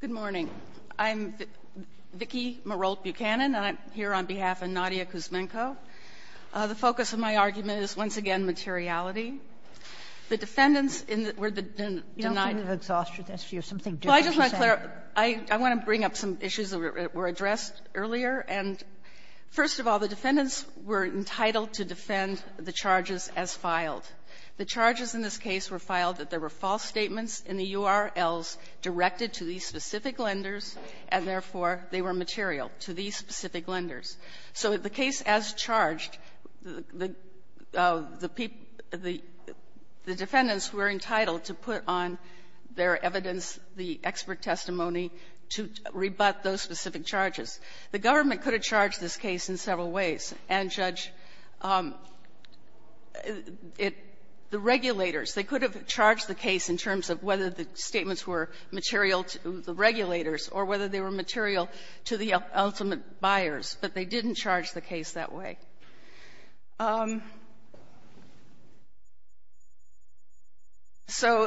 Good morning. I'm Vicki Marolt Buchanan, and I'm here on behalf of Nadia Kuzmenko. The focus of my argument is, once again, materiality. The defendants were denied the charge. You don't think it's an exhaustive issue, something different to say? Well, I just want to clarify. I want to bring up some issues that were addressed earlier. And, first of all, the defendants were entitled to defend the charges as filed. The charges in this case were filed that there were false statements in the URLs directed to these specific lenders, and, therefore, they were material to these specific lenders. So the case as charged, the people, the defendants were entitled to put on their evidence, the expert testimony, to rebut those specific charges. The government could have charged this case in several ways. And, Judge, it — the regulators, they could have charged the case in terms of whether the statements were material to the regulators or whether they were material to the ultimate buyers, but they didn't charge the case that way. So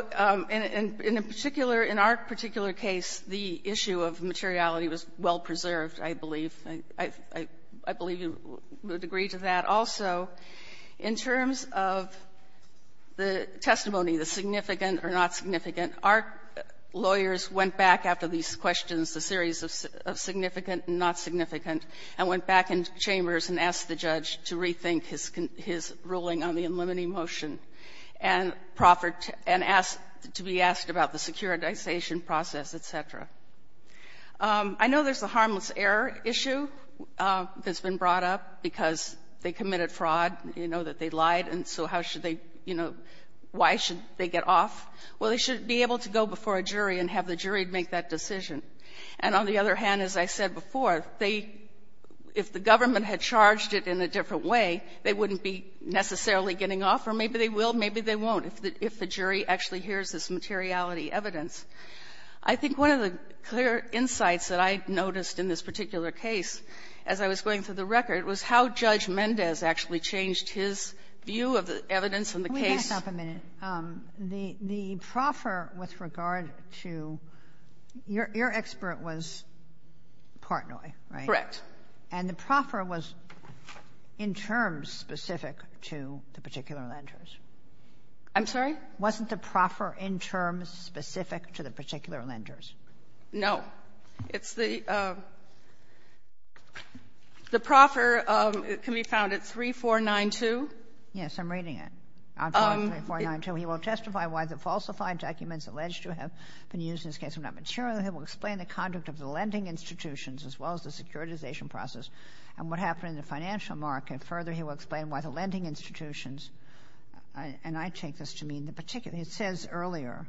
in a particular — in our particular case, the issue of materiality was well-preserved, I believe. I believe you would agree to that also. In terms of the testimony, our lawyers went back after these questions, a series of significant and not significant, and went back into chambers and asked the judge to rethink his ruling on the unlimiting motion, and proffered to be asked about the securitization process, et cetera. I know there's a harmless error issue that's been brought up because they committed fraud, you know, that they lied, and so how should they, you know, why should they get off? Well, they should be able to go before a jury and have the jury make that decision. And on the other hand, as I said before, they — if the government had charged it in a different way, they wouldn't be necessarily getting off, or maybe they will, maybe they won't, if the jury actually hears this materiality evidence. I think one of the clear insights that I noticed in this particular case as I was going through the record was how Judge Mendez actually changed his view of the evidence in the case. Kagan. Let me stop a minute. The proffer with regard to — your expert was Portnoy, right? Correct. And the proffer was in terms specific to the particular lenders. I'm sorry? Wasn't the proffer in terms specific to the particular lenders? No. It's the — the proffer can be found at 3492. Yes, I'm reading it. On 3492, he will testify why the falsified documents alleged to have been used in this case were not material. He will explain the conduct of the lending institutions as well as the securitization process and what happened in the financial market. Further, he will explain why the lending institutions — and I take this to mean the particular — it says earlier,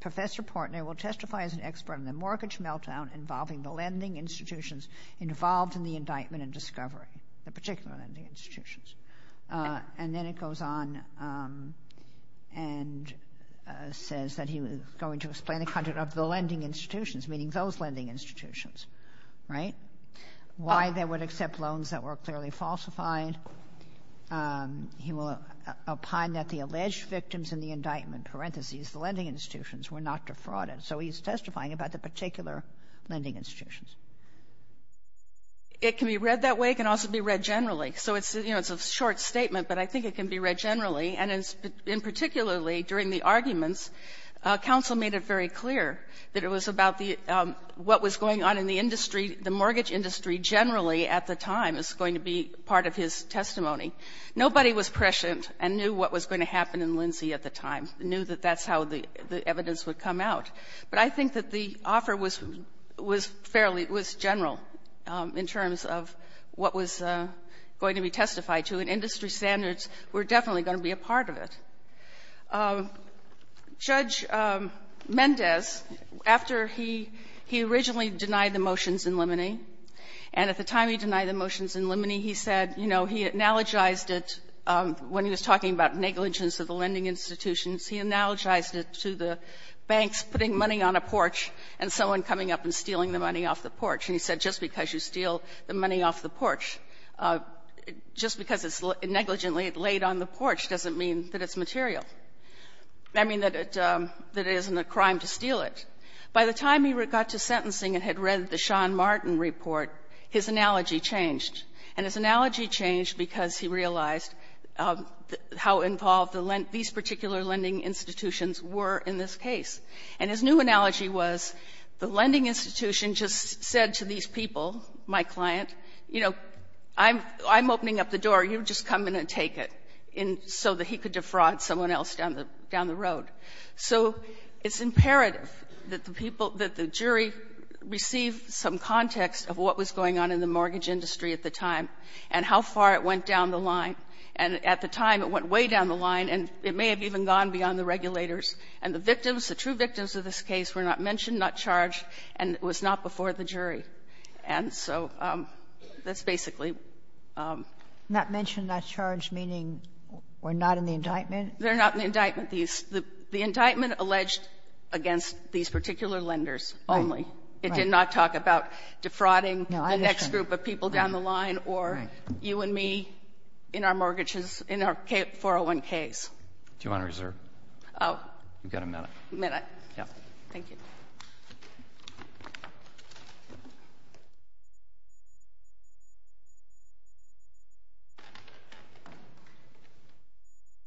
Professor Portnoy will testify as an expert on the mortgage meltdown involving the lending institutions involved in the indictment and discovery, the particular lending institutions. And then it goes on and says that he was going to explain the conduct of the lending institutions, meaning those lending institutions, right, why they would accept loans that were clearly falsified. He will opine that the alleged victims in the indictment, parentheses, the lending institutions, were not defrauded. So he's testifying about the particular lending institutions. It can be read that way. It can also be read generally. So it's, you know, it's a short statement, but I think it can be read generally. And in particularly during the arguments, counsel made it very clear that it was about the — what was going on in the industry, the mortgage industry generally at the time is going to be part of his testimony. Nobody was prescient and knew what was going to happen in Lindsay at the time, knew that that's how the evidence would come out. But I think that the offer was fairly — it was general in terms of what was going to be testified to. And industry standards were definitely going to be a part of it. Judge Mendez, after he — he originally denied the motions in Limoney, and at the time he denied the motions in Limoney, he said, you know, he analogized it when he was talking about negligence of the lending institutions. He analogized it to the banks putting money on a porch and someone coming up and stealing the money off the porch. And he said just because you steal the money off the porch, just because it's negligently laid on the porch doesn't mean that it's material. I mean, that it — that it isn't a crime to steal it. By the time he got to sentencing and had read the Sean Martin report, his analogy changed. And his analogy changed because he realized how involved the — these particular lending institutions were in this case. And his new analogy was the lending institution just said to these people, my client, you know, I'm — I'm opening up the door, you just come in and take it, and so that he could defraud someone else down the — down the road. So it's imperative that the people — that the jury receive some context of what was going on in the mortgage industry at the time and how far it went down the line. And at the time, it went way down the line, and it may have even gone beyond the victims of this case were not mentioned, not charged, and was not before the jury. And so that's basically — Not mentioned, not charged, meaning we're not in the indictment? They're not in the indictment. These — the indictment alleged against these particular lenders only. It did not talk about defrauding the next group of people down the line or you and me in our mortgages, in our 401ks. Do you want to reserve? Oh. You've got a minute. May I? Yeah. Thank you.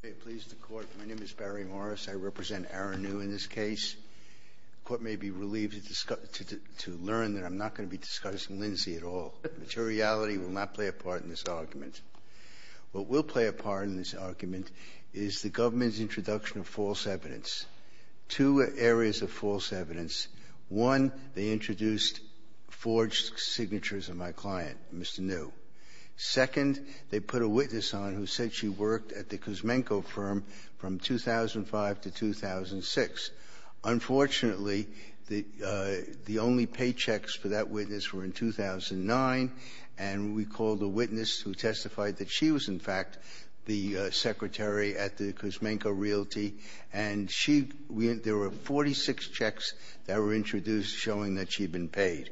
May it please the Court. My name is Barry Morris. I represent Aaron New in this case. The Court may be relieved to learn that I'm not going to be discussing Lindsay at all, but the reality will not play a part in this argument. What will play a part in this argument is the government's introduction of false evidence, two areas of false evidence. One, they introduced forged signatures of my client, Mr. New. Second, they put a witness on who said she worked at the Cusmenco firm from 2005 to 2006. Unfortunately, the only paychecks for that witness were in 2009, and we called a witness who testified that she was, in fact, the secretary at the Cusmenco Realty, and she went there were 46 checks that were introduced showing that she'd been paid.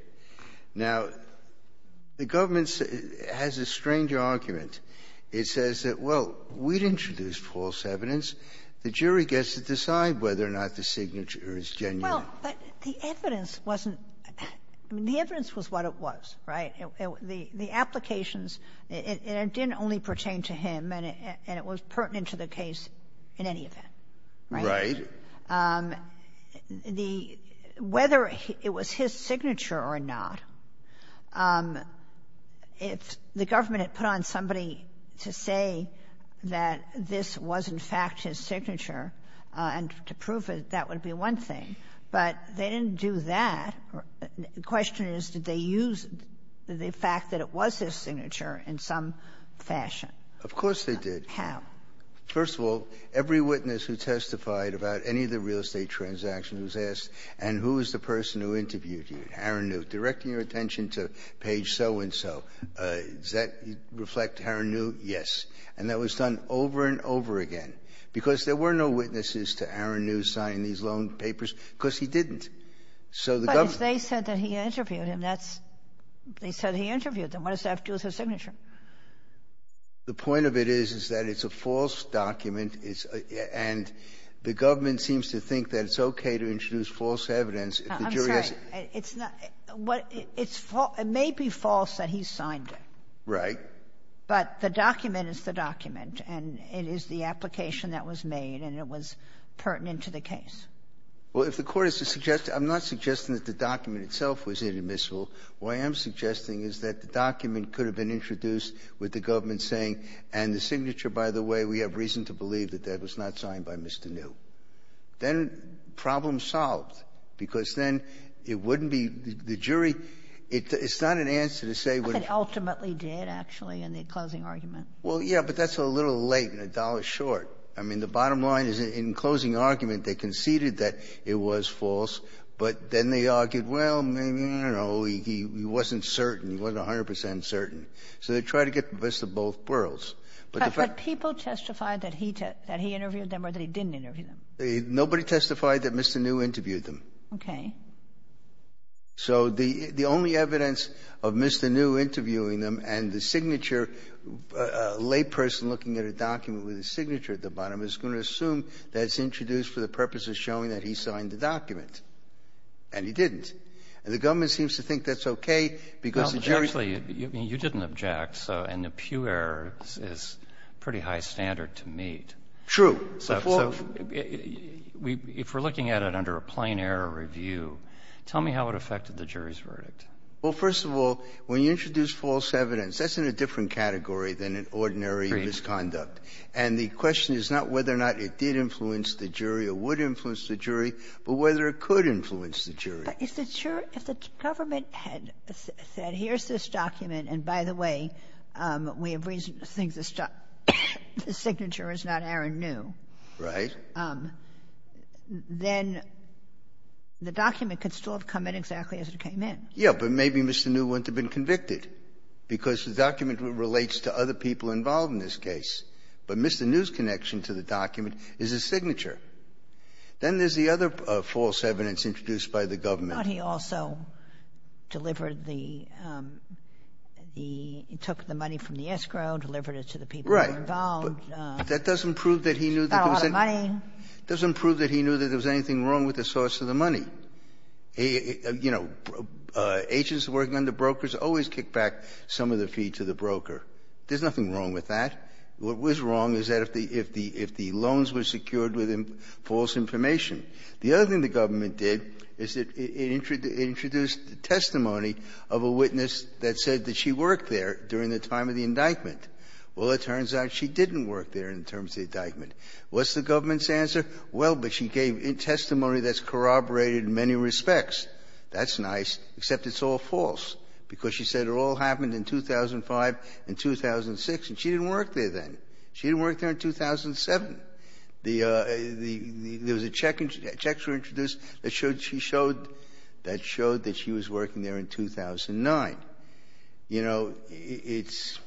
Now, the government has a strange argument. It says that, well, we'd introduced false evidence. The jury gets to decide whether or not the signature is genuine. Well, but the evidence wasn't the evidence was what it was, right? The applications, it didn't only pertain to him, and it was pertinent to the case in any event, right? Right. The — whether it was his signature or not, if the government had put on somebody to say that this was, in fact, his signature, and to prove it, that would be one thing, but they didn't do that. The question is, did they use the fact that it was his signature in some fashion? Of course they did. How? First of all, every witness who testified about any of the real estate transactions was asked, and who is the person who interviewed you, Aaron Newt, directing your attention to page so-and-so? Does that reflect Aaron Newt? Yes. And that was done over and over again, because there were no witnesses to Aaron Newt signing these loan papers, because he didn't. So the government — But if they said that he interviewed him, that's — they said he interviewed them. What does that have to do with his signature? The point of it is, is that it's a false document, and the government seems to think that it's okay to introduce false evidence if the jury has — I'm sorry. It's not — what — it's false — it may be false that he signed it. Right. But the document is the document, and it is the application that was made, and it was a curtain into the case. Well, if the Court is to suggest — I'm not suggesting that the document itself was inadmissible. What I am suggesting is that the document could have been introduced with the government saying, and the signature, by the way, we have reason to believe that that was not signed by Mr. Newt. Then problem solved, because then it wouldn't be — the jury — it's not an answer to say what it — I think it ultimately did, actually, in the closing argument. Well, yeah, but that's a little late and a dollar short. I mean, the bottom line is, in closing argument, they conceded that it was false, but then they argued, well, maybe, I don't know, he wasn't certain. He wasn't 100 percent certain. So they tried to get the best of both worlds. But the fact — But people testified that he interviewed them or that he didn't interview them. Nobody testified that Mr. Newt interviewed them. Okay. So the only evidence of Mr. Newt interviewing them and the signature, a layperson looking at a document with a signature at the bottom is going to assume that it's introduced for the purpose of showing that he signed the document. And he didn't. And the government seems to think that's okay, because the jury — Well, actually, you didn't object, so — and the Pew error is pretty high standard to meet. True. So if we're looking at it under a plain-error review, tell me how it affected the jury's verdict. Well, first of all, when you introduce false evidence, that's in a different category than an ordinary misconduct. And the question is not whether or not it did influence the jury or would influence the jury, but whether it could influence the jury. But is it sure — if the government had said, here's this document, and by the way, we have reason to think the signature is not Aaron Newt — Right. — then the document could still have come in exactly as it came in. Yeah, but maybe Mr. Newt wouldn't have been convicted, because the document relates to other people involved in this case. But Mr. Newt's connection to the document is his signature. Then there's the other false evidence introduced by the government. But he also delivered the — he took the money from the escrow, delivered it to the people who were involved. Right. But that doesn't prove that he knew that there was any — Not a lot of money. It doesn't prove that he knew that there was anything wrong with the source of the money. You know, agents working under brokers always kick back some of the fee to the broker. There's nothing wrong with that. What was wrong is that if the loans were secured with false information. The other thing the government did is it introduced testimony of a witness that said that she worked there during the time of the indictment. Well, it turns out she didn't work there in terms of the indictment. What's the government's answer? Well, but she gave testimony that's corroborated in many respects. That's nice, except it's all false, because she said it all happened in 2005 and 2006, and she didn't work there then. She didn't work there in 2007. The — there was a check — checks were introduced that showed she showed — that showed that she was working there in 2009. You know, it's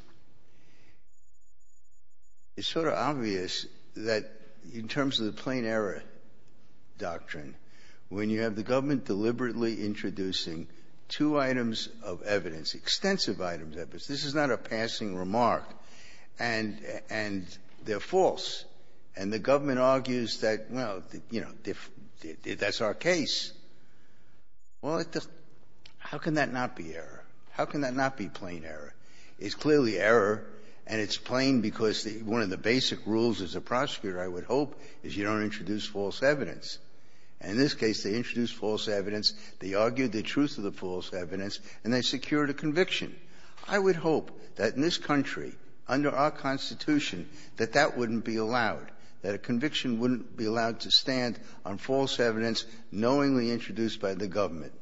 sort of obvious that in terms of the plain error doctrine, when you have the government deliberately introducing two items of evidence, extensive items of evidence — this is not a passing remark, and they're false. And the government argues that, well, you know, that's our case. Well, it just — how can that not be error? How can that not be plain error? It's clearly error, and it's plain because the — one of the basic rules as a prosecutor, I would hope, is you don't introduce false evidence. And in this case, they introduced false evidence, they argued the truth of the false evidence, and they secured a conviction. I would hope that in this country, under our Constitution, that that wouldn't be allowed, that a conviction wouldn't be allowed to stand on false evidence knowingly introduced by the government.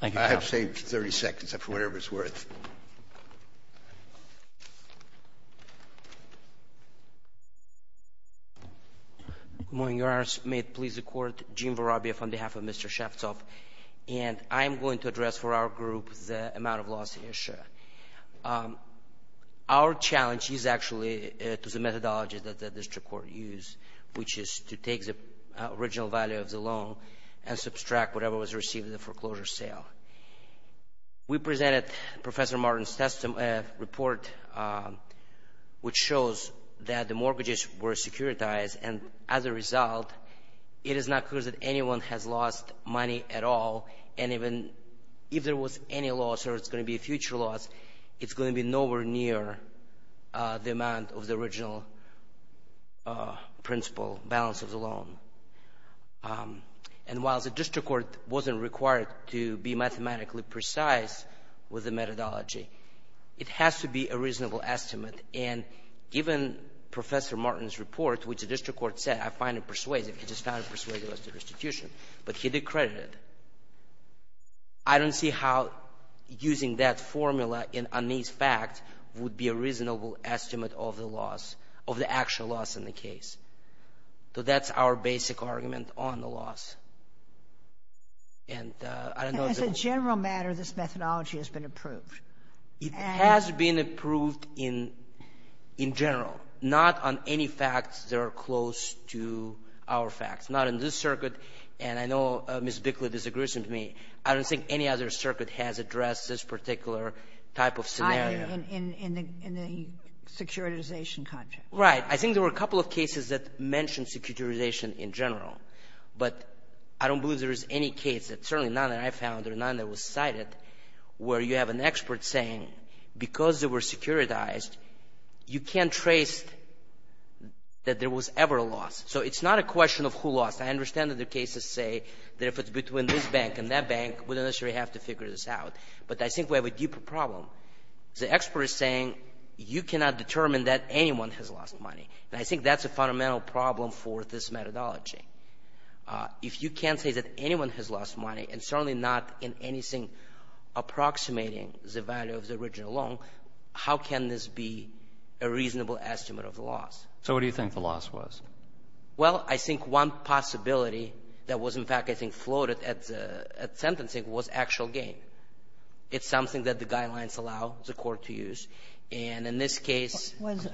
Thank you, Your Honor. I have saved 30 seconds, for whatever it's worth. Good morning, Your Honors. May it please the Court. Gene Vorobiev on behalf of Mr. Shaftsov. And I'm going to address for our group the amount of loss issue. Our challenge is actually to the methodology that the district court used, which is to take the original value of the loan and subtract whatever was received in the foreclosure sale. We presented Professor Martin's report, which shows that the mortgages were securitized, and as a result, it is not clear that anyone has lost money at all, and even if there was any loss or it's going to be a future loss, it's going to be nowhere near the amount of the original principal balance of the loan. And while the district court wasn't required to be mathematically precise with the methodology, it has to be a reasonable estimate, and given Professor Martin's report, which the district court said, I find it persuasive, it's just not persuasive as to restitution, but he decredited, I don't see how using that formula in unease fact would be a reasonable estimate of the loss, of the actual loss in the case. So that's our basic argument on the loss. And I don't know if it will be the case. And as a general matter, this methodology has been approved. It has been approved in general, not on any facts that are close to our facts, not in this circuit, and I know Ms. Bickley disagrees with me. I don't think any other circuit has addressed this particular type of scenario. I mean, in the securitization context. Right. I think there were a couple of cases that mentioned securitization in general, but I don't believe there is any case, and certainly none that I found or none that was cited, where you have an expert saying, because they were securitized, you can't trace that there was ever a loss. So it's not a question of who lost. I understand that the cases say that if it's between this bank and that bank, we don't necessarily have to figure this out. But I think we have a deeper problem. The expert is saying, you cannot determine that anyone has lost money, and I think that's a fundamental problem for this methodology. If you can't say that anyone has lost money, and certainly not in anything approximating the value of the original loan, how can this be a reasonable estimate of the loss? So what do you think the loss was? Well, I think one possibility that was, in fact, I think, floated at the sentencing was actual gain. It's something that the guidelines allow the court to use. And in this case was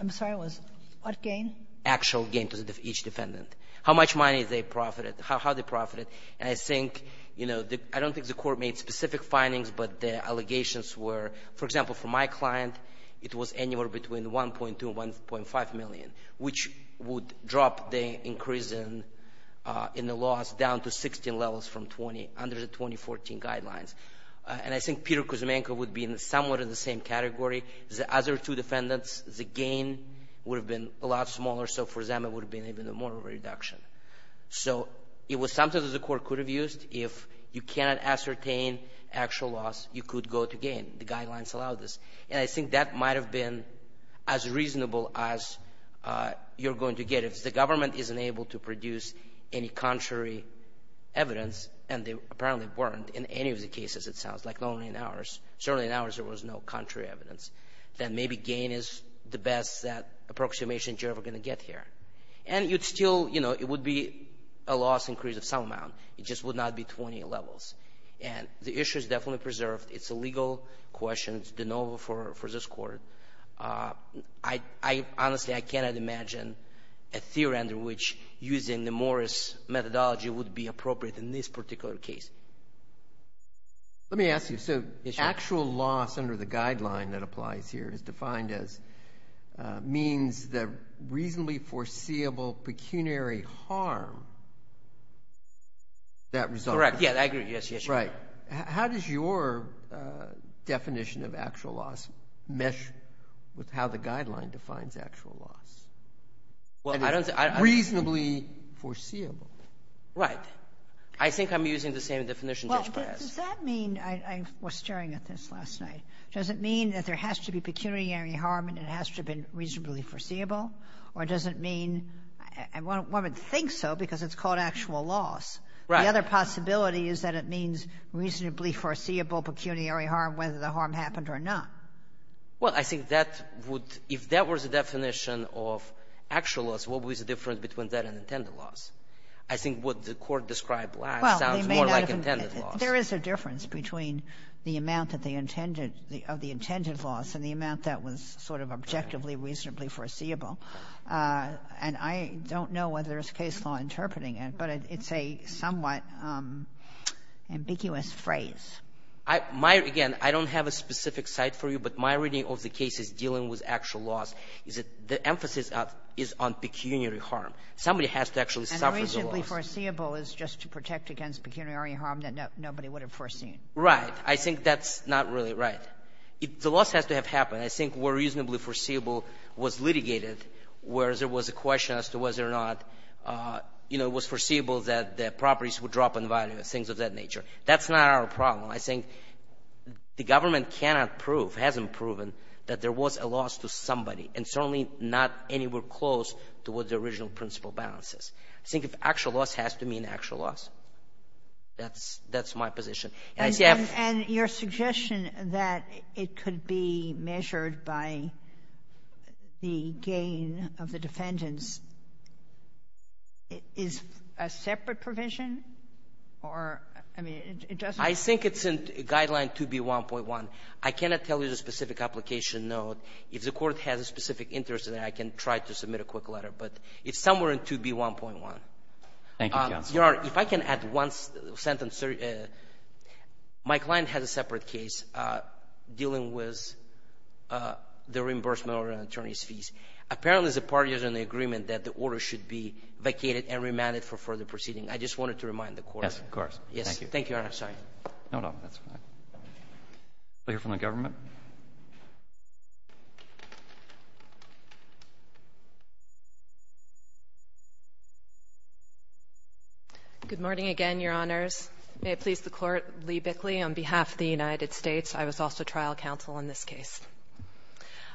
actual gain to each defendant. How much money they profited, how they profited, and I think, you know, I don't think the court made specific findings, but the allegations were, for example, for my client, it was anywhere between $1.2 and $1.5 million, which would drop the increase in the loss down to 16 levels from 20 under the 2014 guidelines. And I think Peter Kuzmenko would be in somewhat of the same category. The other two defendants, the gain would have been a lot smaller, so for them, it would have been even more of a reduction. So it was something that the court could have used. If you cannot ascertain actual loss, you could go to gain. The guidelines allow this. And I think that might have been as reasonable as you're going to get. But if the government isn't able to produce any contrary evidence, and they apparently weren't in any of the cases, it sounds like, not only in ours, certainly in ours, there was no contrary evidence, then maybe gain is the best approximation you're ever going to get here. And you'd still, you know, it would be a loss increase of some amount. It just would not be 20 levels. And the issue is definitely preserved. It's a legal question. It's de novo for this court. So, I honestly, I cannot imagine a theory under which using the Morris methodology would be appropriate in this particular case. Let me ask you, so actual loss under the guideline that applies here is defined as means that reasonably foreseeable pecuniary harm that result. Correct. Yeah, I agree. Yes, yes. Right. How does your definition of actual loss mesh with how the guideline defines actual loss? Well, I don't think I reasonably foreseeable. Right. I think I'm using the same definition, Judge Perez. Well, does that mean, I was staring at this last night, does it mean that there has to be pecuniary harm, and it has to have been reasonably foreseeable? Or does it mean, one would think so, because it's called actual loss. Right. The other possibility is that it means reasonably foreseeable pecuniary harm, whether the harm happened or not. Well, I think that would, if that was the definition of actual loss, what would be the difference between that and intended loss? I think what the Court described last sounds more like intended loss. Well, there is a difference between the amount that they intended, of the intended loss, and the amount that was sort of objectively, reasonably foreseeable. And I don't know whether there's case law interpreting it, but it's a somewhat ambiguous phrase. My, again, I don't have a specific site for you, but my reading of the case is dealing with actual loss, is that the emphasis is on pecuniary harm. Somebody has to actually suffer the loss. And reasonably foreseeable is just to protect against pecuniary harm that nobody would have foreseen. Right. I think that's not really right. The loss has to have happened. And I think where reasonably foreseeable was litigated, where there was a question as to whether or not, you know, it was foreseeable that the properties would drop in value, things of that nature. That's not our problem. I think the government cannot prove, hasn't proven, that there was a loss to somebody, and certainly not anywhere close to what the original principle balances. I think if actual loss has to mean actual loss, that's my position. And your suggestion that it could be measured by the gain of the defendants is a separate provision or, I mean, it doesn't ---- I think it's in Guideline 2B1.1. I cannot tell you the specific application note. If the Court has a specific interest in it, I can try to submit a quick letter. But it's somewhere in 2B1.1. Thank you, counsel. Your Honor, if I can add one sentence. My client has a separate case dealing with the reimbursement of an attorney's fees. Apparently, the parties are in agreement that the order should be vacated and remanded for further proceeding. I just wanted to remind the Court. Yes, of course. Thank you. Thank you, Your Honor. I'm sorry. No, no, that's fine. I'll hear from the government. Good morning again, Your Honors. May it please the Court, Lee Bickley on behalf of the United States. I was also trial counsel in this case.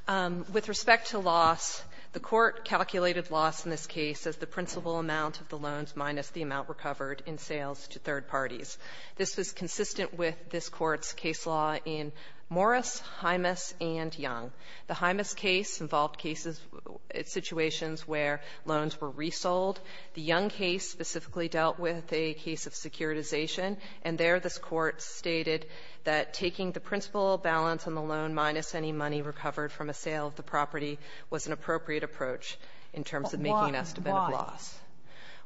With respect to loss, the Court calculated loss in this case as the principal amount of the loans minus the amount recovered in sales to third parties. This was consistent with this Court's case law in Morris, Hymas, and Young. The Hymas case involved cases, situations where loans were resold. The Young case specifically dealt with a case of securitization. And there, this Court stated that taking the principal balance on the loan minus any money recovered from a sale of the property was an appropriate approach in terms of making an estimate of loss.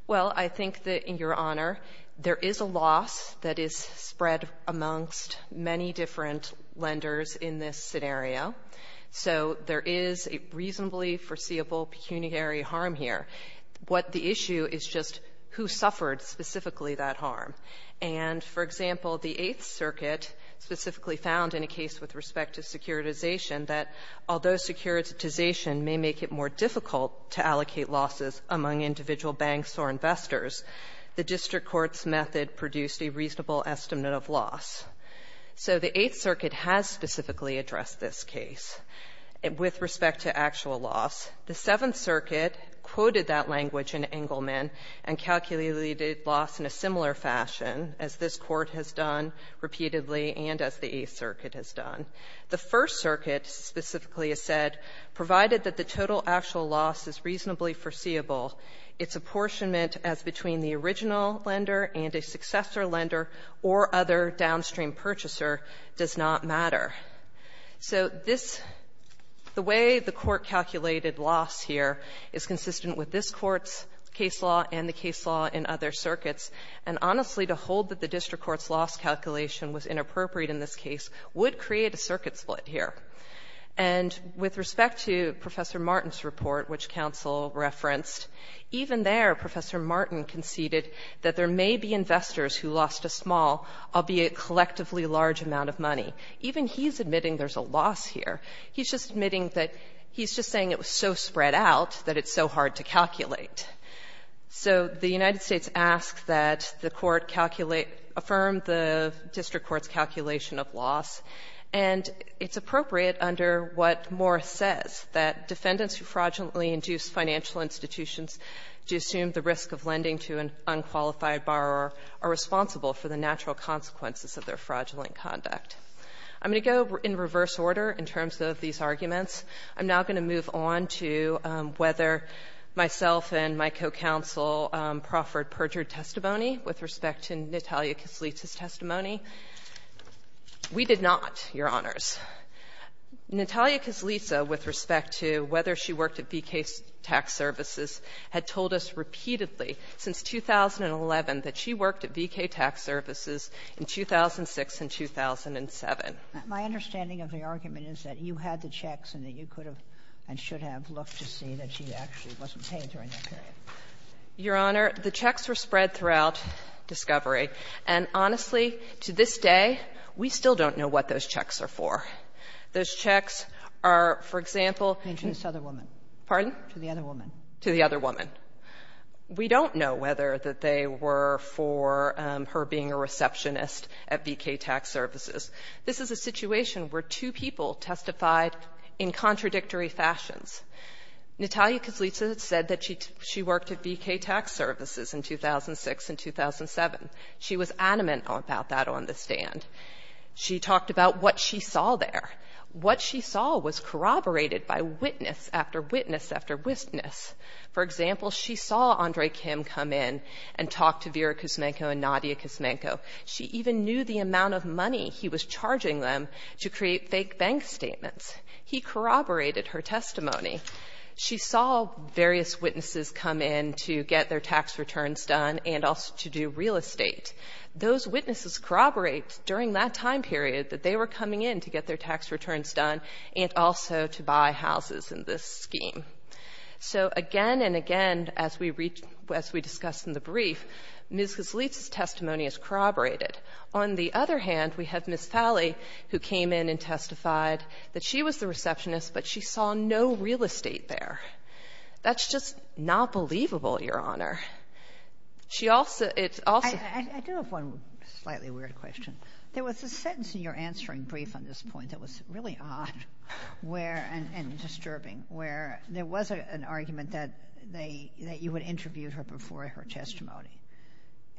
Well, I think that, in your honor, there is a loss that is spread amongst many different lenders in this scenario. So there is a reasonably foreseeable pecuniary harm here. What the issue is just who suffered specifically that harm. And, for example, the Eighth Circuit specifically found in a case with respect to securitization that although securitization may make it more difficult to allocate losses among individual banks or investors, the district court's method produced a reasonable estimate of loss. So the Eighth Circuit has specifically addressed this case. With respect to actual loss, the Seventh Circuit quoted that language in Engleman and calculated loss in a similar fashion, as this Court has done repeatedly and as the Eighth Circuit has done. The First Circuit specifically has said, provided that the total actual loss is reasonably foreseeable, its apportionment as between the original lender and a successor lender or other downstream purchaser does not matter. So this, the way the Court calculated loss here is consistent with this Court's case law and the case law in other circuits. And, honestly, to hold that the district court's loss calculation was inappropriate in this case would create a circuit split here. And with respect to Professor Martin's report, which counsel referenced, even there Professor Martin conceded that there may be investors who lost a small, albeit collectively large amount of money. Even he's admitting there's a loss here. He's just admitting that, he's just saying it was so spread out that it's so hard to calculate. So the United States asks that the Court calculate, affirm the district court's calculation of loss. And it's appropriate under what Morris says, that defendants who fraudulently induce financial institutions to assume the risk of lending to an unqualified borrower are responsible for the natural consequences of their fraudulent conduct. I'm going to go in reverse order in terms of these arguments. I'm now going to move on to whether myself and my co-counsel proffered perjured testimony with respect to Natalia Kislitsa's testimony. We did not, Your Honors. Natalia Kislitsa, with respect to whether she worked at V.K. Tax Services, had told us repeatedly since 2011 that she worked at V.K. Tax Services in 2006 and 2007. My understanding of the argument is that you had the checks and that you could have and should have looked to see that she actually wasn't paid during that period. Your Honor, the checks were spread throughout discovery. And honestly, to this day, we still don't know what those checks are for. Those checks are, for example to the other woman. We don't know whether that they were for her being a receptionist at V.K. Tax Services. This is a situation where two people testified in contradictory fashions. Natalia Kislitsa said that she worked at V.K. Tax Services in 2006 and 2007. She was adamant about that on the stand. She talked about what she saw there. What she saw was corroborated by witness after witness after witness. For example, she saw Andre Kim come in and talk to Vera Kuzmenko and Nadia Kuzmenko. She even knew the amount of money he was charging them to create fake bank statements. He corroborated her testimony. She saw various witnesses come in to get their tax returns done and also to do real estate. Those witnesses corroborate during that time period that they were coming in to get their tax returns done and also to buy houses in this scheme. So again and again, as we discussed in the brief, Ms. Kislitsa's testimony is corroborated. On the other hand, we have Ms. Falley, who came in and testified that she was the receptionist, but she saw no real estate there. That's just not believable, Your Honor. She also — it's also — I do have one slightly weird question. There was a sentence in your answering brief on this point that was really odd where — and disturbing — where there was an argument that they — that you would interview her before her testimony.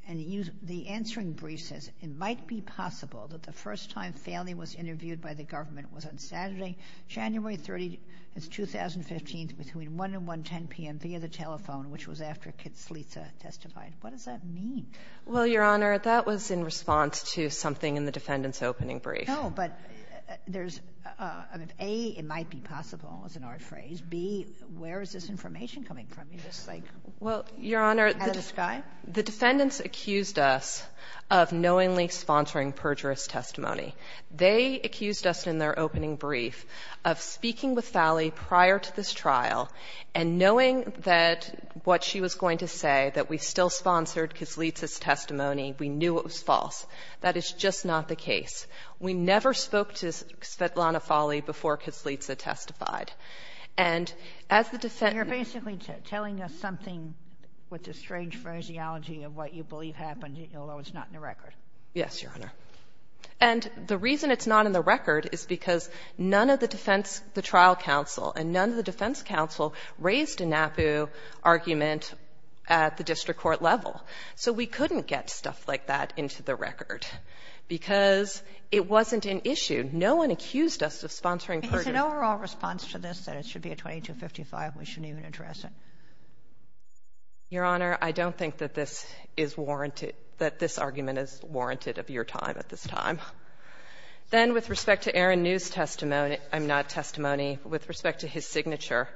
And the answering brief says, it might be possible that the first time Falley was interviewed by the government was on Saturday, January 30, 2015, between 1 and 1.10 p.m. via the telephone, which was after Kislitsa testified. What does that mean? Well, Your Honor, that was in response to something in the defendant's opening brief. No, but there's — I mean, A, it might be possible, is an odd phrase. B, where is this information coming from? You just, like — Well, Your Honor — Out of the sky? The defendants accused us of knowingly sponsoring perjurous testimony. They accused us in their opening brief of speaking with Falley prior to this trial and knowing that what she was going to say, that we still sponsored Kislitsa's testimony, we knew it was false. That is just not the case. We never spoke to Svetlana Falley before Kislitsa testified. And as the defendant — Telling us something with the strange phraseology of what you believe happened, although it's not in the record. Yes, Your Honor. And the reason it's not in the record is because none of the defense — the trial counsel and none of the defense counsel raised a NAPU argument at the district court level. So we couldn't get stuff like that into the record because it wasn't an issue. No one accused us of sponsoring perjury. Is an overall response to this that it should be a 2255? We shouldn't even address it? Your Honor, I don't think that this is warranted — that this argument is warranted of your time at this time. Then, with respect to Aaron New's testimony — I'm not at testimony — but with respect to his signature,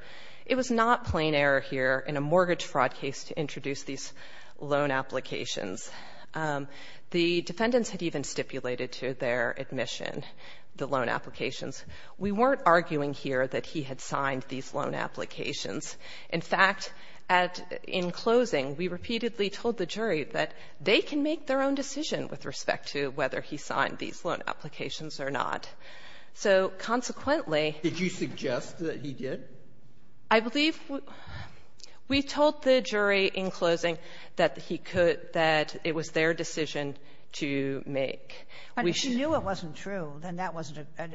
it was not plain error here in a mortgage fraud case to introduce these loan applications. The defendants had even stipulated to their admission the loan applications. We weren't arguing here that he had signed these loan applications. In fact, at — in closing, we repeatedly told the jury that they can make their own decision with respect to whether he signed these loan applications or not. So, consequently — Did you suggest that he did? I believe we told the jury in closing that he could — that it was their decision to make. If he knew it wasn't true, then that wasn't a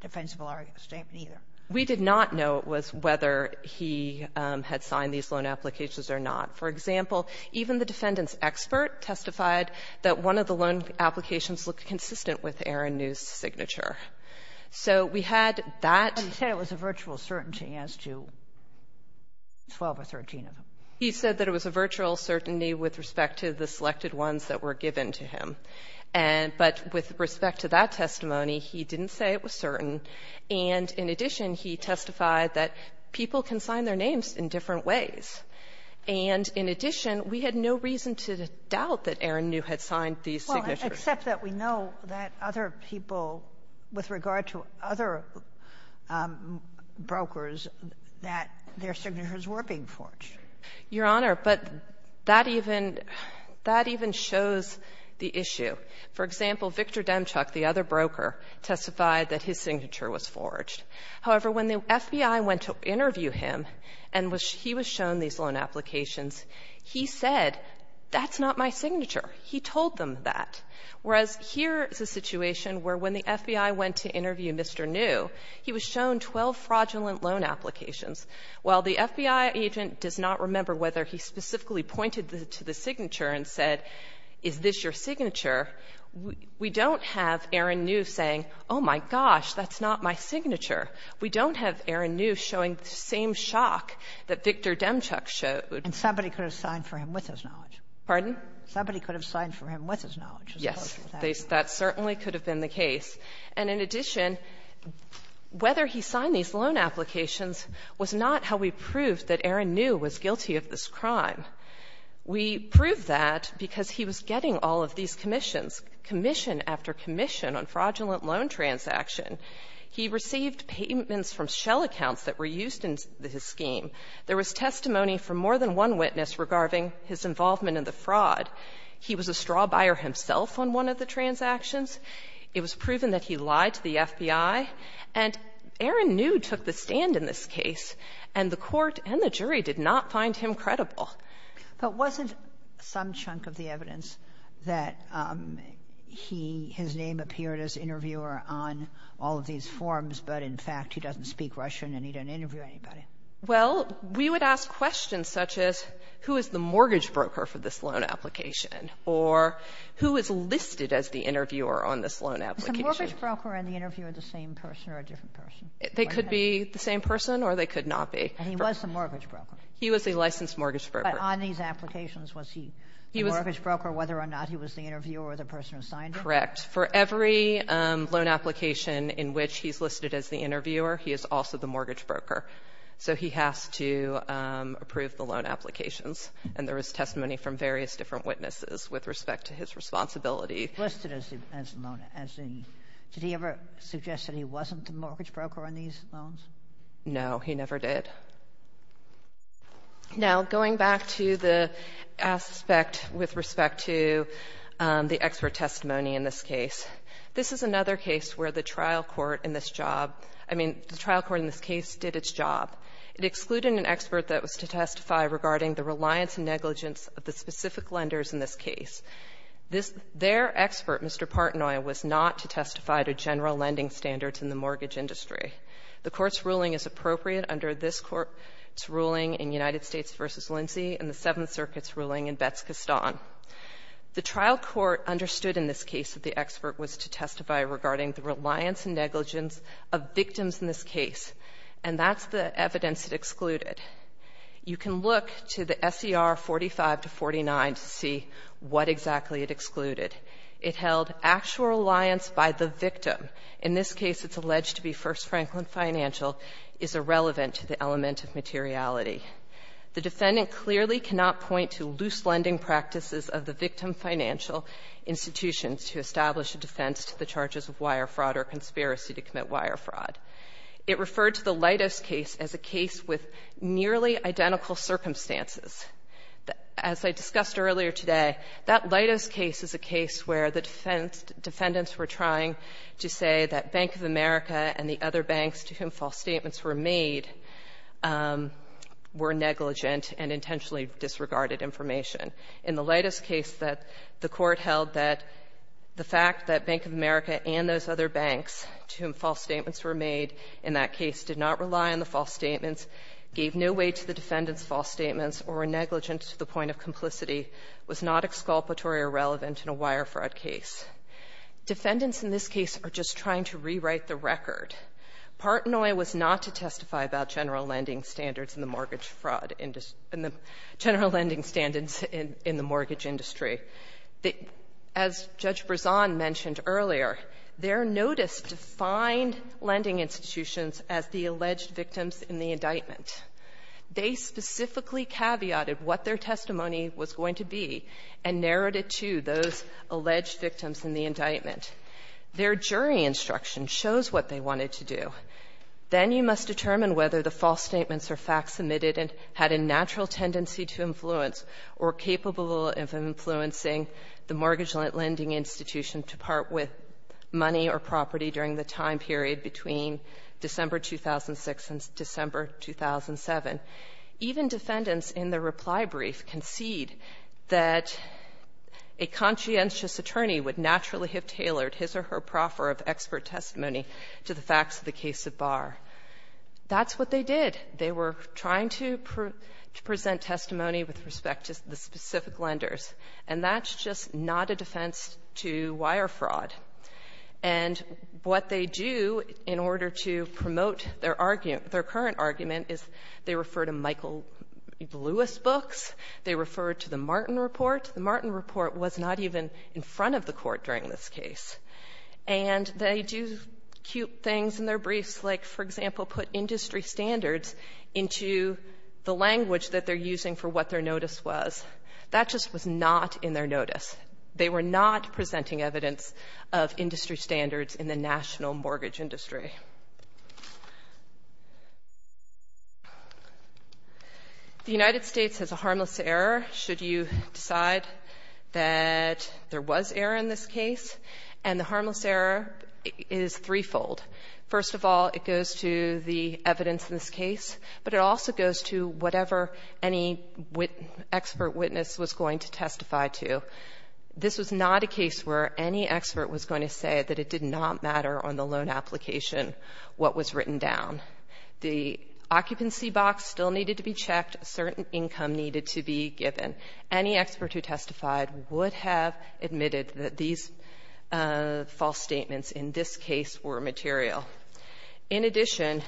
defensible argument either. We did not know it was whether he had signed these loan applications or not. For example, even the defendant's expert testified that one of the loan applications looked consistent with Aaron New's signature. So we had that — But he said it was a virtual certainty as to 12 or 13 of them. He said that it was a virtual certainty with respect to the selected ones that were given to him. And — but with respect to that testimony, he didn't say it was certain. And in addition, he testified that people can sign their names in different ways. And in addition, we had no reason to doubt that Aaron New had signed these signatures. Well, except that we know that other people, with regard to other brokers, that their signatures were being forged. Your Honor, but that even — that even shows the issue. For example, Victor Demchuk, the other broker, testified that his signature was forged. However, when the FBI went to interview him and he was shown these loan applications, he said, that's not my signature. He told them that. Whereas here is a situation where when the FBI went to interview Mr. New, he was shown 12 fraudulent loan applications. While the FBI agent does not remember whether he specifically pointed to the signature and said, is this your signature, we don't have Aaron New saying, oh, my gosh, that's not my signature. We don't have Aaron New showing the same shock that Victor Demchuk showed. And somebody could have signed for him with his knowledge. Pardon? Somebody could have signed for him with his knowledge. Yes. That certainly could have been the case. And in addition, whether he signed these loan applications was not how we proved that Aaron New was guilty of this crime. We proved that because he was getting all of these commissions, commission after commission on fraudulent loan transaction. He received payments from shell accounts that were used in his scheme. There was testimony from more than one witness regarding his involvement in the fraud. He was a straw buyer himself on one of the transactions. It was proven that he lied to the FBI. And Aaron New took the stand in this case, and the court and the jury did not find him credible. But wasn't some chunk of the evidence that he — his name appeared as interviewer on all of these forms, but in fact, he doesn't speak Russian and he didn't interview anybody? Well, we would ask questions such as, who is the mortgage broker for this loan application? Or, who is listed as the interviewer on this loan application? Is the mortgage broker and the interviewer the same person or a different person? They could be the same person or they could not be. And he was the mortgage broker. He was a licensed mortgage broker. But on these applications, was he the mortgage broker whether or not he was the interviewer or the person who signed them? Correct. For every loan application in which he's listed as the interviewer, he is also the mortgage broker. So he has to approve the loan applications. And there was testimony from various different witnesses with respect to his responsibility. Listed as the loan — as the — did he ever suggest that he wasn't the mortgage broker on these loans? No. He never did. Now, going back to the aspect with respect to the expert testimony in this case, this is another case where the trial court in this job — I mean, the trial court in this case did its job. It excluded an expert that was to testify regarding the reliance and negligence of the specific lenders in this case. This — their expert, Mr. Partanoi, was not to testify to general lending standards in the mortgage industry. The Court's ruling is appropriate under this Court's ruling in United States v. Lindsey and the Seventh Circuit's ruling in Betz-Kastan. The trial court understood in this case that the expert was to testify regarding the reliance and negligence of victims in this case. And that's the evidence it excluded. You can look to the SER 45-49 to see what exactly it excluded. It held actual reliance by the victim. In this case, it's alleged to be First Franklin Financial, is irrelevant to the element of materiality. The defendant clearly cannot point to loose lending practices of the victim financial institutions to establish a defense to the charges of wire fraud or conspiracy to commit wire fraud. It referred to the Leidos case as a case with nearly identical circumstances. As I discussed earlier today, that Leidos case is a case where the defendants were trying to say that Bank of America and the other banks to whom false statements were made were negligent and intentionally disregarded information. In the Leidos case, the Court held that the fact that Bank of America and those other banks to whom false statements were made in that case did not rely on the false statements, gave no weight to the defendant's false statements, or were negligent to the point of complicity was not exculpatory or relevant in a wire fraud case. Defendants in this case are just trying to rewrite the record. Partnoy was not to testify about general lending standards in the mortgage fraud industry and the general lending standards in the mortgage industry. As Judge Brezon mentioned earlier, their notice defined lending institutions as the alleged victims in the indictment. They specifically caveated what their testimony was going to be and narrowed it to those alleged victims in the indictment. Their jury instruction shows what they wanted to do. Then you must determine whether the false statements or facts submitted had a natural tendency to influence or capable of influencing the mortgage lending institution to part with money or property during the time period between December 2006 and December 2007. Even defendants in the reply brief concede that a conscientious attorney would naturally have tailored his or her proffer of expert testimony to the facts of the case of Barr. That's what they did. They were trying to present testimony with respect to the specific lenders. And that's just not a defense to wire fraud. And what they do in order to promote their argument, their current argument, is they refer to Michael Lewis books. They refer to the Martin Report. The Martin Report was not even in front of the Court during this case. And they do cute things in their briefs, like, for example, put industry standards into the language that they're using for what their notice was. That just was not in their notice. They were not presenting evidence of industry standards in the national mortgage industry. The United States has a harmless error should you decide that there was error in this case, and the harmless error is threefold. First of all, it goes to the evidence in this case, but it also goes to whatever any expert witness was going to testify to. This was not a case where any expert was going to say that it did not matter on the loan application what was written down. The occupancy box still needed to be checked. A certain income needed to be given. Any expert who testified would have admitted that these false statements in this case were material. In addition,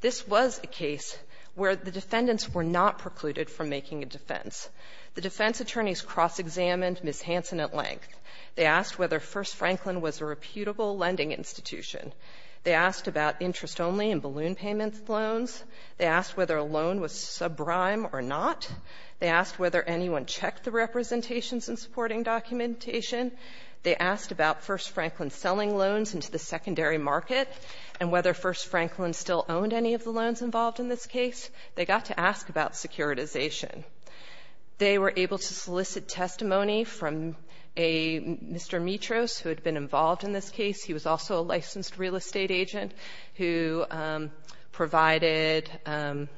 this was a case where the defendants were not precluded from making a defense. The defense attorneys cross-examined Ms. Hansen at length. They asked whether First Franklin was a reputable lending institution. They asked about interest-only and balloon payment loans. They asked whether a loan was subprime or not. They asked whether anyone checked the representations and supporting documentation. They asked about First Franklin selling loans into the secondary market and whether First Franklin still owned any of the loans involved in this case. They got to ask about securitization. They were able to solicit testimony from a Mr. Mitros who had been involved in this case. He was also a licensed real estate agent who provided a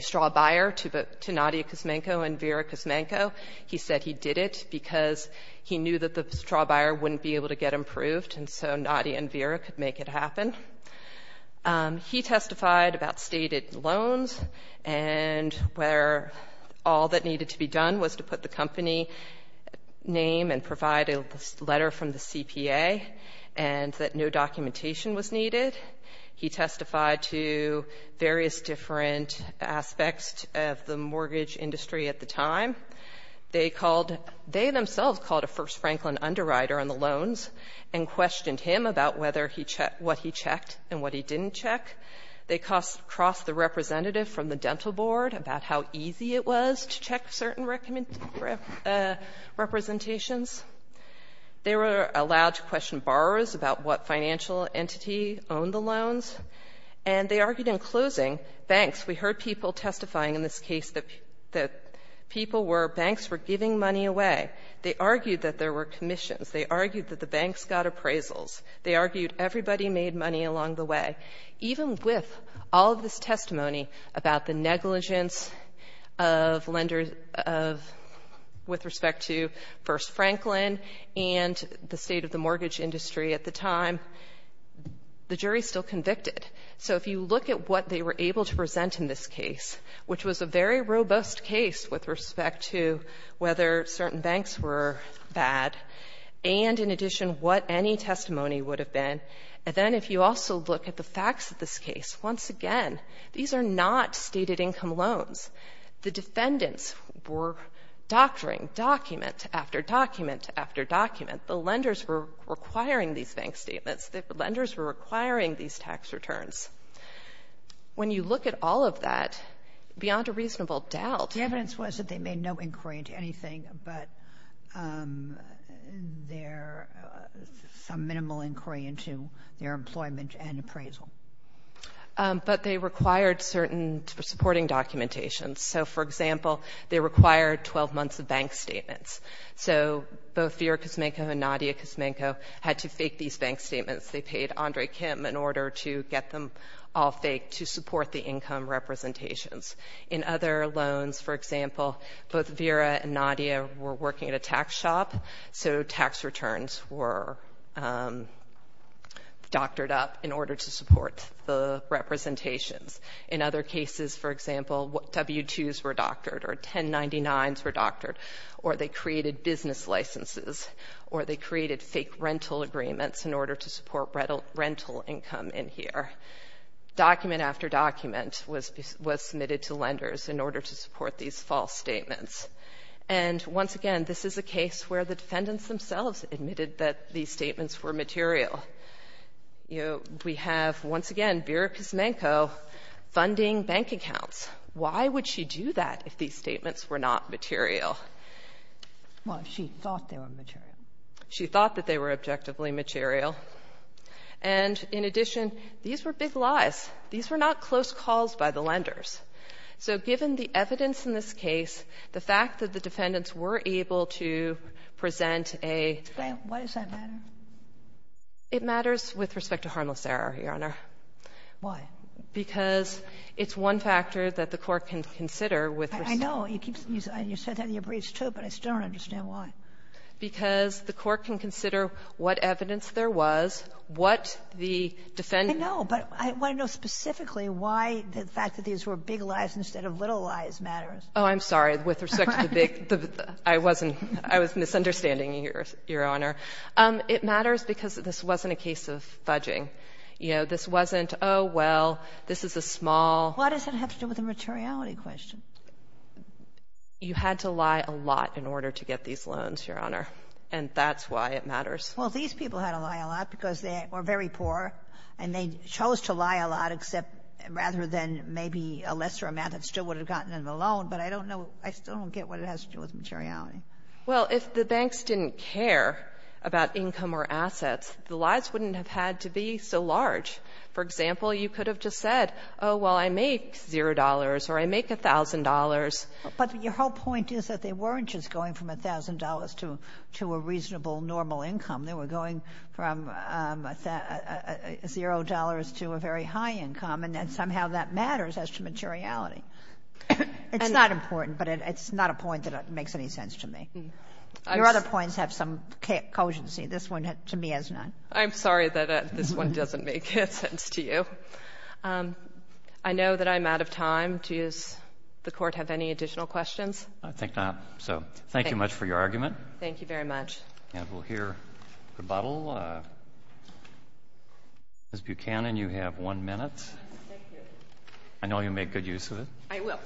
straw buyer to Nadia Cosmenko and Vera Cosmenko. He said he did it because he knew that the straw buyer wouldn't be able to get approved and so Nadia and Vera could make it happen. He testified about stated loans and where all that needed to be done was to put the company name and provide a letter from the CPA. And that no documentation was needed. He testified to various different aspects of the mortgage industry at the time. They called they themselves called a First Franklin underwriter on the loans and questioned him about whether he checked what he checked and what he didn't check. They crossed the representative from the dental board about how easy it was to check certain representations. They were allowed to question borrowers about what financial entity owned the loans. And they argued in closing, banks, we heard people testifying in this case that people were banks were giving money away. They argued that there were commissions. They argued that the banks got appraisals. They argued everybody made money along the way. Even with all of this testimony about the negligence of lenders of with respect to First Franklin and the state of the mortgage industry at the time, the jury is still convicted. So if you look at what they were able to present in this case, which was a very robust case with respect to whether certain banks were bad, and in addition what any testimony would have been, and then if you also look at the facts of this case, once again, these are not stated income loans. The defendants were doctoring document after document after document. The lenders were requiring these bank statements. The lenders were requiring these tax returns. When you look at all of that, beyond a reasonable doubt — Sotomayor, the evidence was that they made no inquiry into anything but their — some minimal inquiry into their employment and appraisal. But they required certain supporting documentation. So for example, they required 12 months of bank statements. So both Vera Kosmenko and Nadia Kosmenko had to fake these bank statements. They paid Andre Kim in order to get them all faked to support the income representations. In other loans, for example, both Vera and Nadia were working at a tax shop, so tax returns were doctored up in order to support the representations. In other cases, for example, W-2s were doctored or 1099s were doctored, or they created business licenses, or they created fake rental agreements in order to support rental income in here. Document after document was submitted to lenders in order to support these false statements. And once again, this is a case where the defendants themselves admitted that these statements were material. You know, we have, once again, Vera Kosmenko funding bank accounts. Why would she do that if these statements were not material? Well, she thought they were material. She thought that they were objectively material. And in addition, these were big lies. These were not close calls by the lenders. So given the evidence in this case, the fact that the defendants were able to present a ---- Why does that matter? It matters with respect to harmless error, Your Honor. Why? Because it's one factor that the Court can consider with respect to ---- I know. You said that in your briefs, too, but I still don't understand why. Because the Court can consider what evidence there was, what the defendant ---- No, but I want to know specifically why the fact that these were big lies instead of little lies matters. Oh, I'm sorry. With respect to the big ---- I wasn't ---- I was misunderstanding you, Your Honor. It matters because this wasn't a case of fudging. You know, this wasn't, oh, well, this is a small ---- Why does it have to do with the materiality question? You had to lie a lot in order to get these loans, Your Honor. And that's why it matters. Well, these people had to lie a lot because they were very poor, and they chose to lie a lot, except rather than maybe a lesser amount that still would have gotten them a loan. But I don't know ---- I still don't get what it has to do with materiality. Well, if the banks didn't care about income or assets, the lies wouldn't have had to be so large. For example, you could have just said, oh, well, I make $0 or I make $1,000. But your whole point is that they weren't just going from $1,000 to a reasonable normal income. They were going from $0 to a very high income, and somehow that matters as to materiality. It's not important, but it's not a point that makes any sense to me. Your other points have some cogency. This one, to me, has none. I'm sorry that this one doesn't make sense to you. I know that I'm out of time. Do you, as the Court, have any additional questions? I think not. So thank you much for your argument. Thank you very much. And we'll hear rebuttal. Ms. Buchanan, you have one minute. I know you'll make good use of it. I will.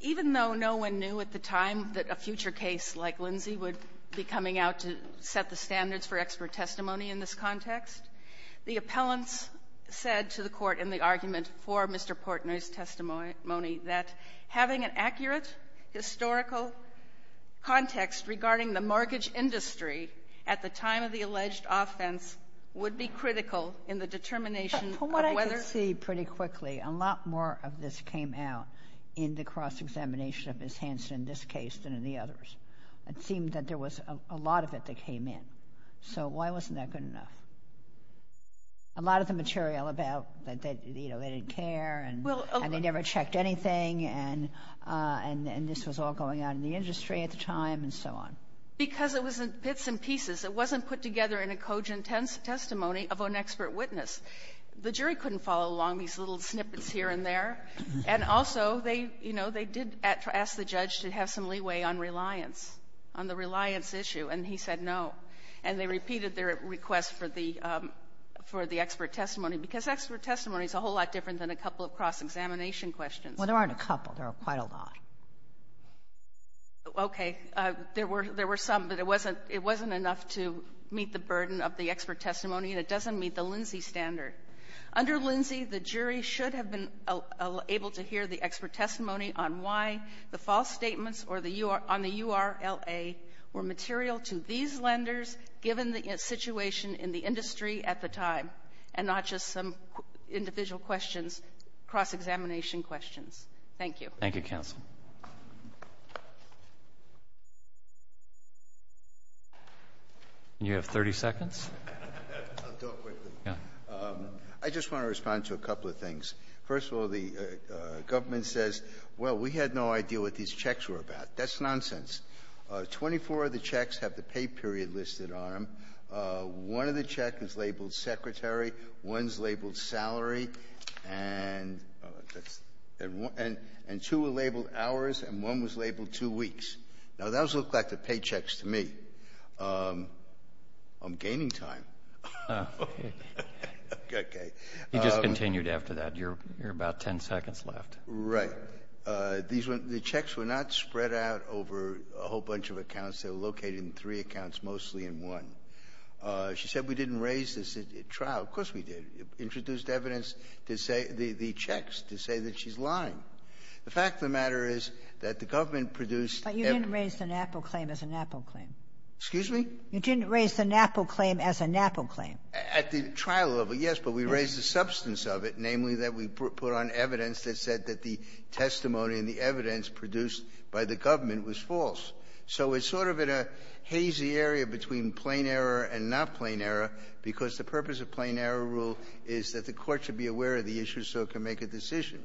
Even though no one knew at the time that a future case like Lindsey would be coming out to set the standards for expert testimony in this context, the appellants said to the Court in the argument for Mr. Portner's testimony that having an accurate historical context regarding the mortgage industry at the time of the alleged offense would be critical in the determination of whether — From what I can see pretty quickly, a lot more of this came out in the cross-examination of Ms. Hanson in this case than in the others. It seemed that there was a lot of it that came in. So why wasn't that good enough? A lot of the material about — that, you know, they didn't care and they never checked anything, and this was all going out in the industry at the time and so on. Because it was in bits and pieces. It wasn't put together in a cogent testimony of an expert witness. The jury couldn't follow along these little snippets here and there. And also, they — you know, they did ask the judge to have some leeway on reliance, on the reliance issue, and he said no. And they repeated their request for the — for the expert testimony, because expert testimony is a whole lot different than a couple of cross-examination Sotomayor Well, there aren't a couple. There are quite a lot. Okay. There were — there were some, but it wasn't — it wasn't enough to meet the burden of the expert testimony, and it doesn't meet the Lindsay standard. Under Lindsay, the jury should have been able to hear the expert testimony on why the false statements on the U.R.L.A. were material to these lenders, given the situation in the industry at the time, and not just some individual questions, cross-examination questions. Thank you. Thank you, counsel. And you have 30 seconds. I'll do it quickly. Yeah. I just want to respond to a couple of things. First of all, the government says, well, we had no idea what these checks were about. That's nonsense. Twenty-four of the checks have the pay period listed on them. One of the checks is labeled secretary. One's labeled salary. And that's — and two are labeled hours, and one was labeled two weeks. Now, those look like the paychecks to me. I'm gaining time. Okay. You just continued after that. You're about 10 seconds left. Right. These were — the checks were not spread out over a whole bunch of accounts. They were located in three accounts, mostly in one. She said we didn't raise this at trial. Of course we did. Introduced evidence to say — the checks to say that she's lying. The fact of the matter is that the government produced — But you didn't raise the NAPO claim as a NAPO claim. Excuse me? You didn't raise the NAPO claim as a NAPO claim. At the trial level, yes. But we raised the substance of it, namely that we put on evidence that said that the testimony and the evidence produced by the government was false. So it's sort of in a hazy area between plain error and not plain error, because the purpose of plain error rule is that the court should be aware of the issue so it can make a decision.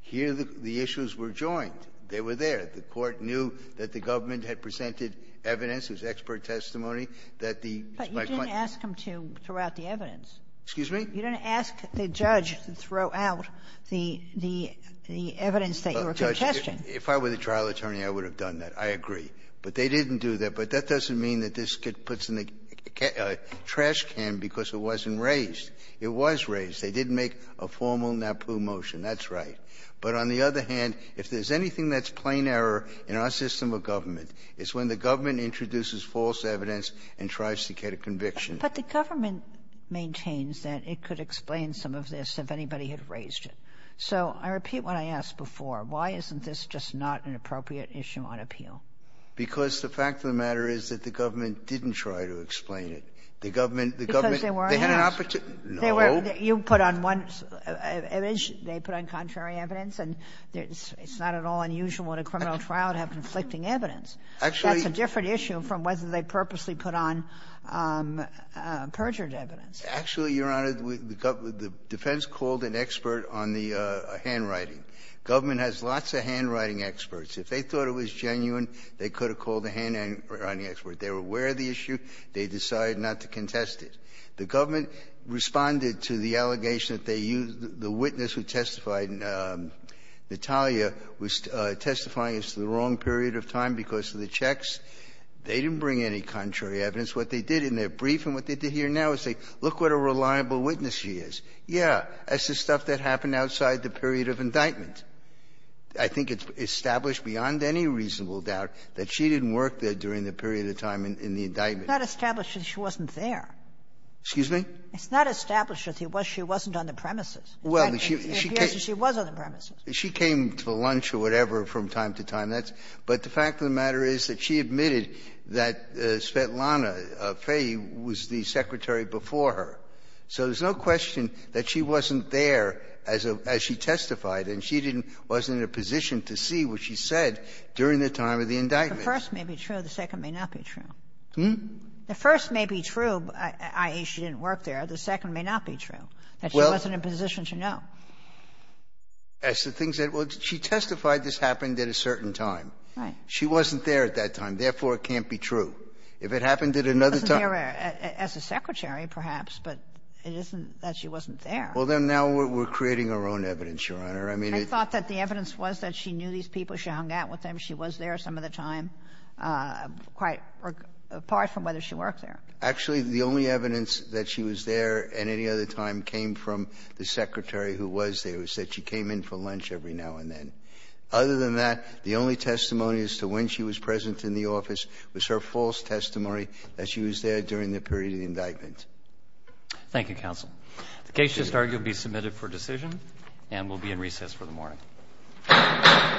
Here, the issues were joined. They were there. The court knew that the government had presented evidence. It was expert testimony that the — But you didn't ask them to throw out the evidence. Excuse me? You didn't ask the judge to throw out the evidence that you were contesting. If I were the trial attorney, I would have done that. I agree. But they didn't do that. But that doesn't mean that this gets put in a trash can because it wasn't raised. It was raised. They did make a formal NAPO motion. That's right. But on the other hand, if there's anything that's plain error in our system of government, it's when the government introduces false evidence and tries to get a conviction. But the government maintains that it could explain some of this if anybody had raised it. So I repeat what I asked before. Why isn't this just not an appropriate issue on appeal? Because the fact of the matter is that the government didn't try to explain it. The government — Because they weren't asked. They had an opportunity — no. You put on one image, they put on contrary evidence. And it's not at all unusual in a criminal trial to have conflicting evidence. Actually — That's a different issue from whether they purposely put on perjured evidence. Actually, Your Honor, the defense called an expert on the handwriting. Government has lots of handwriting experts. If they thought it was genuine, they could have called a handwriting expert. They were aware of the issue. They decided not to contest it. The government responded to the allegation that they used — the witness who testified in Natalia was testifying as to the wrong period of time because of the checks. They didn't bring any contrary evidence. What they did in their brief and what they did here now is say, look what a reliable witness she is. Yeah, that's the stuff that happened outside the period of indictment. I think it's established beyond any reasonable doubt that she didn't work there during the period of time in the indictment. It's not established that she wasn't there. Excuse me? It's not established that she wasn't on the premises. Well, she came — It appears that she was on the premises. She came to lunch or whatever from time to time. That's — but the fact of the matter is that she admitted that Svetlana Fey was the secretary before her. So there's no question that she wasn't there as a — as she testified, and she didn't — wasn't in a position to see what she said during the time of the indictment. The first may be true. The second may not be true. Hmm? The first may be true, i.e., she didn't work there. The second may not be true, that she wasn't in a position to know. Well, as to things that — well, she testified this happened at a certain time. Right. She wasn't there at that time. Therefore, it can't be true. If it happened at another time — She wasn't there as a secretary, perhaps, but it isn't that she wasn't there. Well, then now we're creating our own evidence, Your Honor. I mean, it — But you thought that the evidence was that she knew these people, she hung out with them, she was there some of the time, quite apart from whether she worked there. Actually, the only evidence that she was there at any other time came from the secretary who was there, who said she came in for lunch every now and then. Other than that, the only testimony as to when she was present in the office was her false testimony that she was there during the period of the indictment. Thank you, counsel. The case just argued to be submitted for decision and will be in recess for the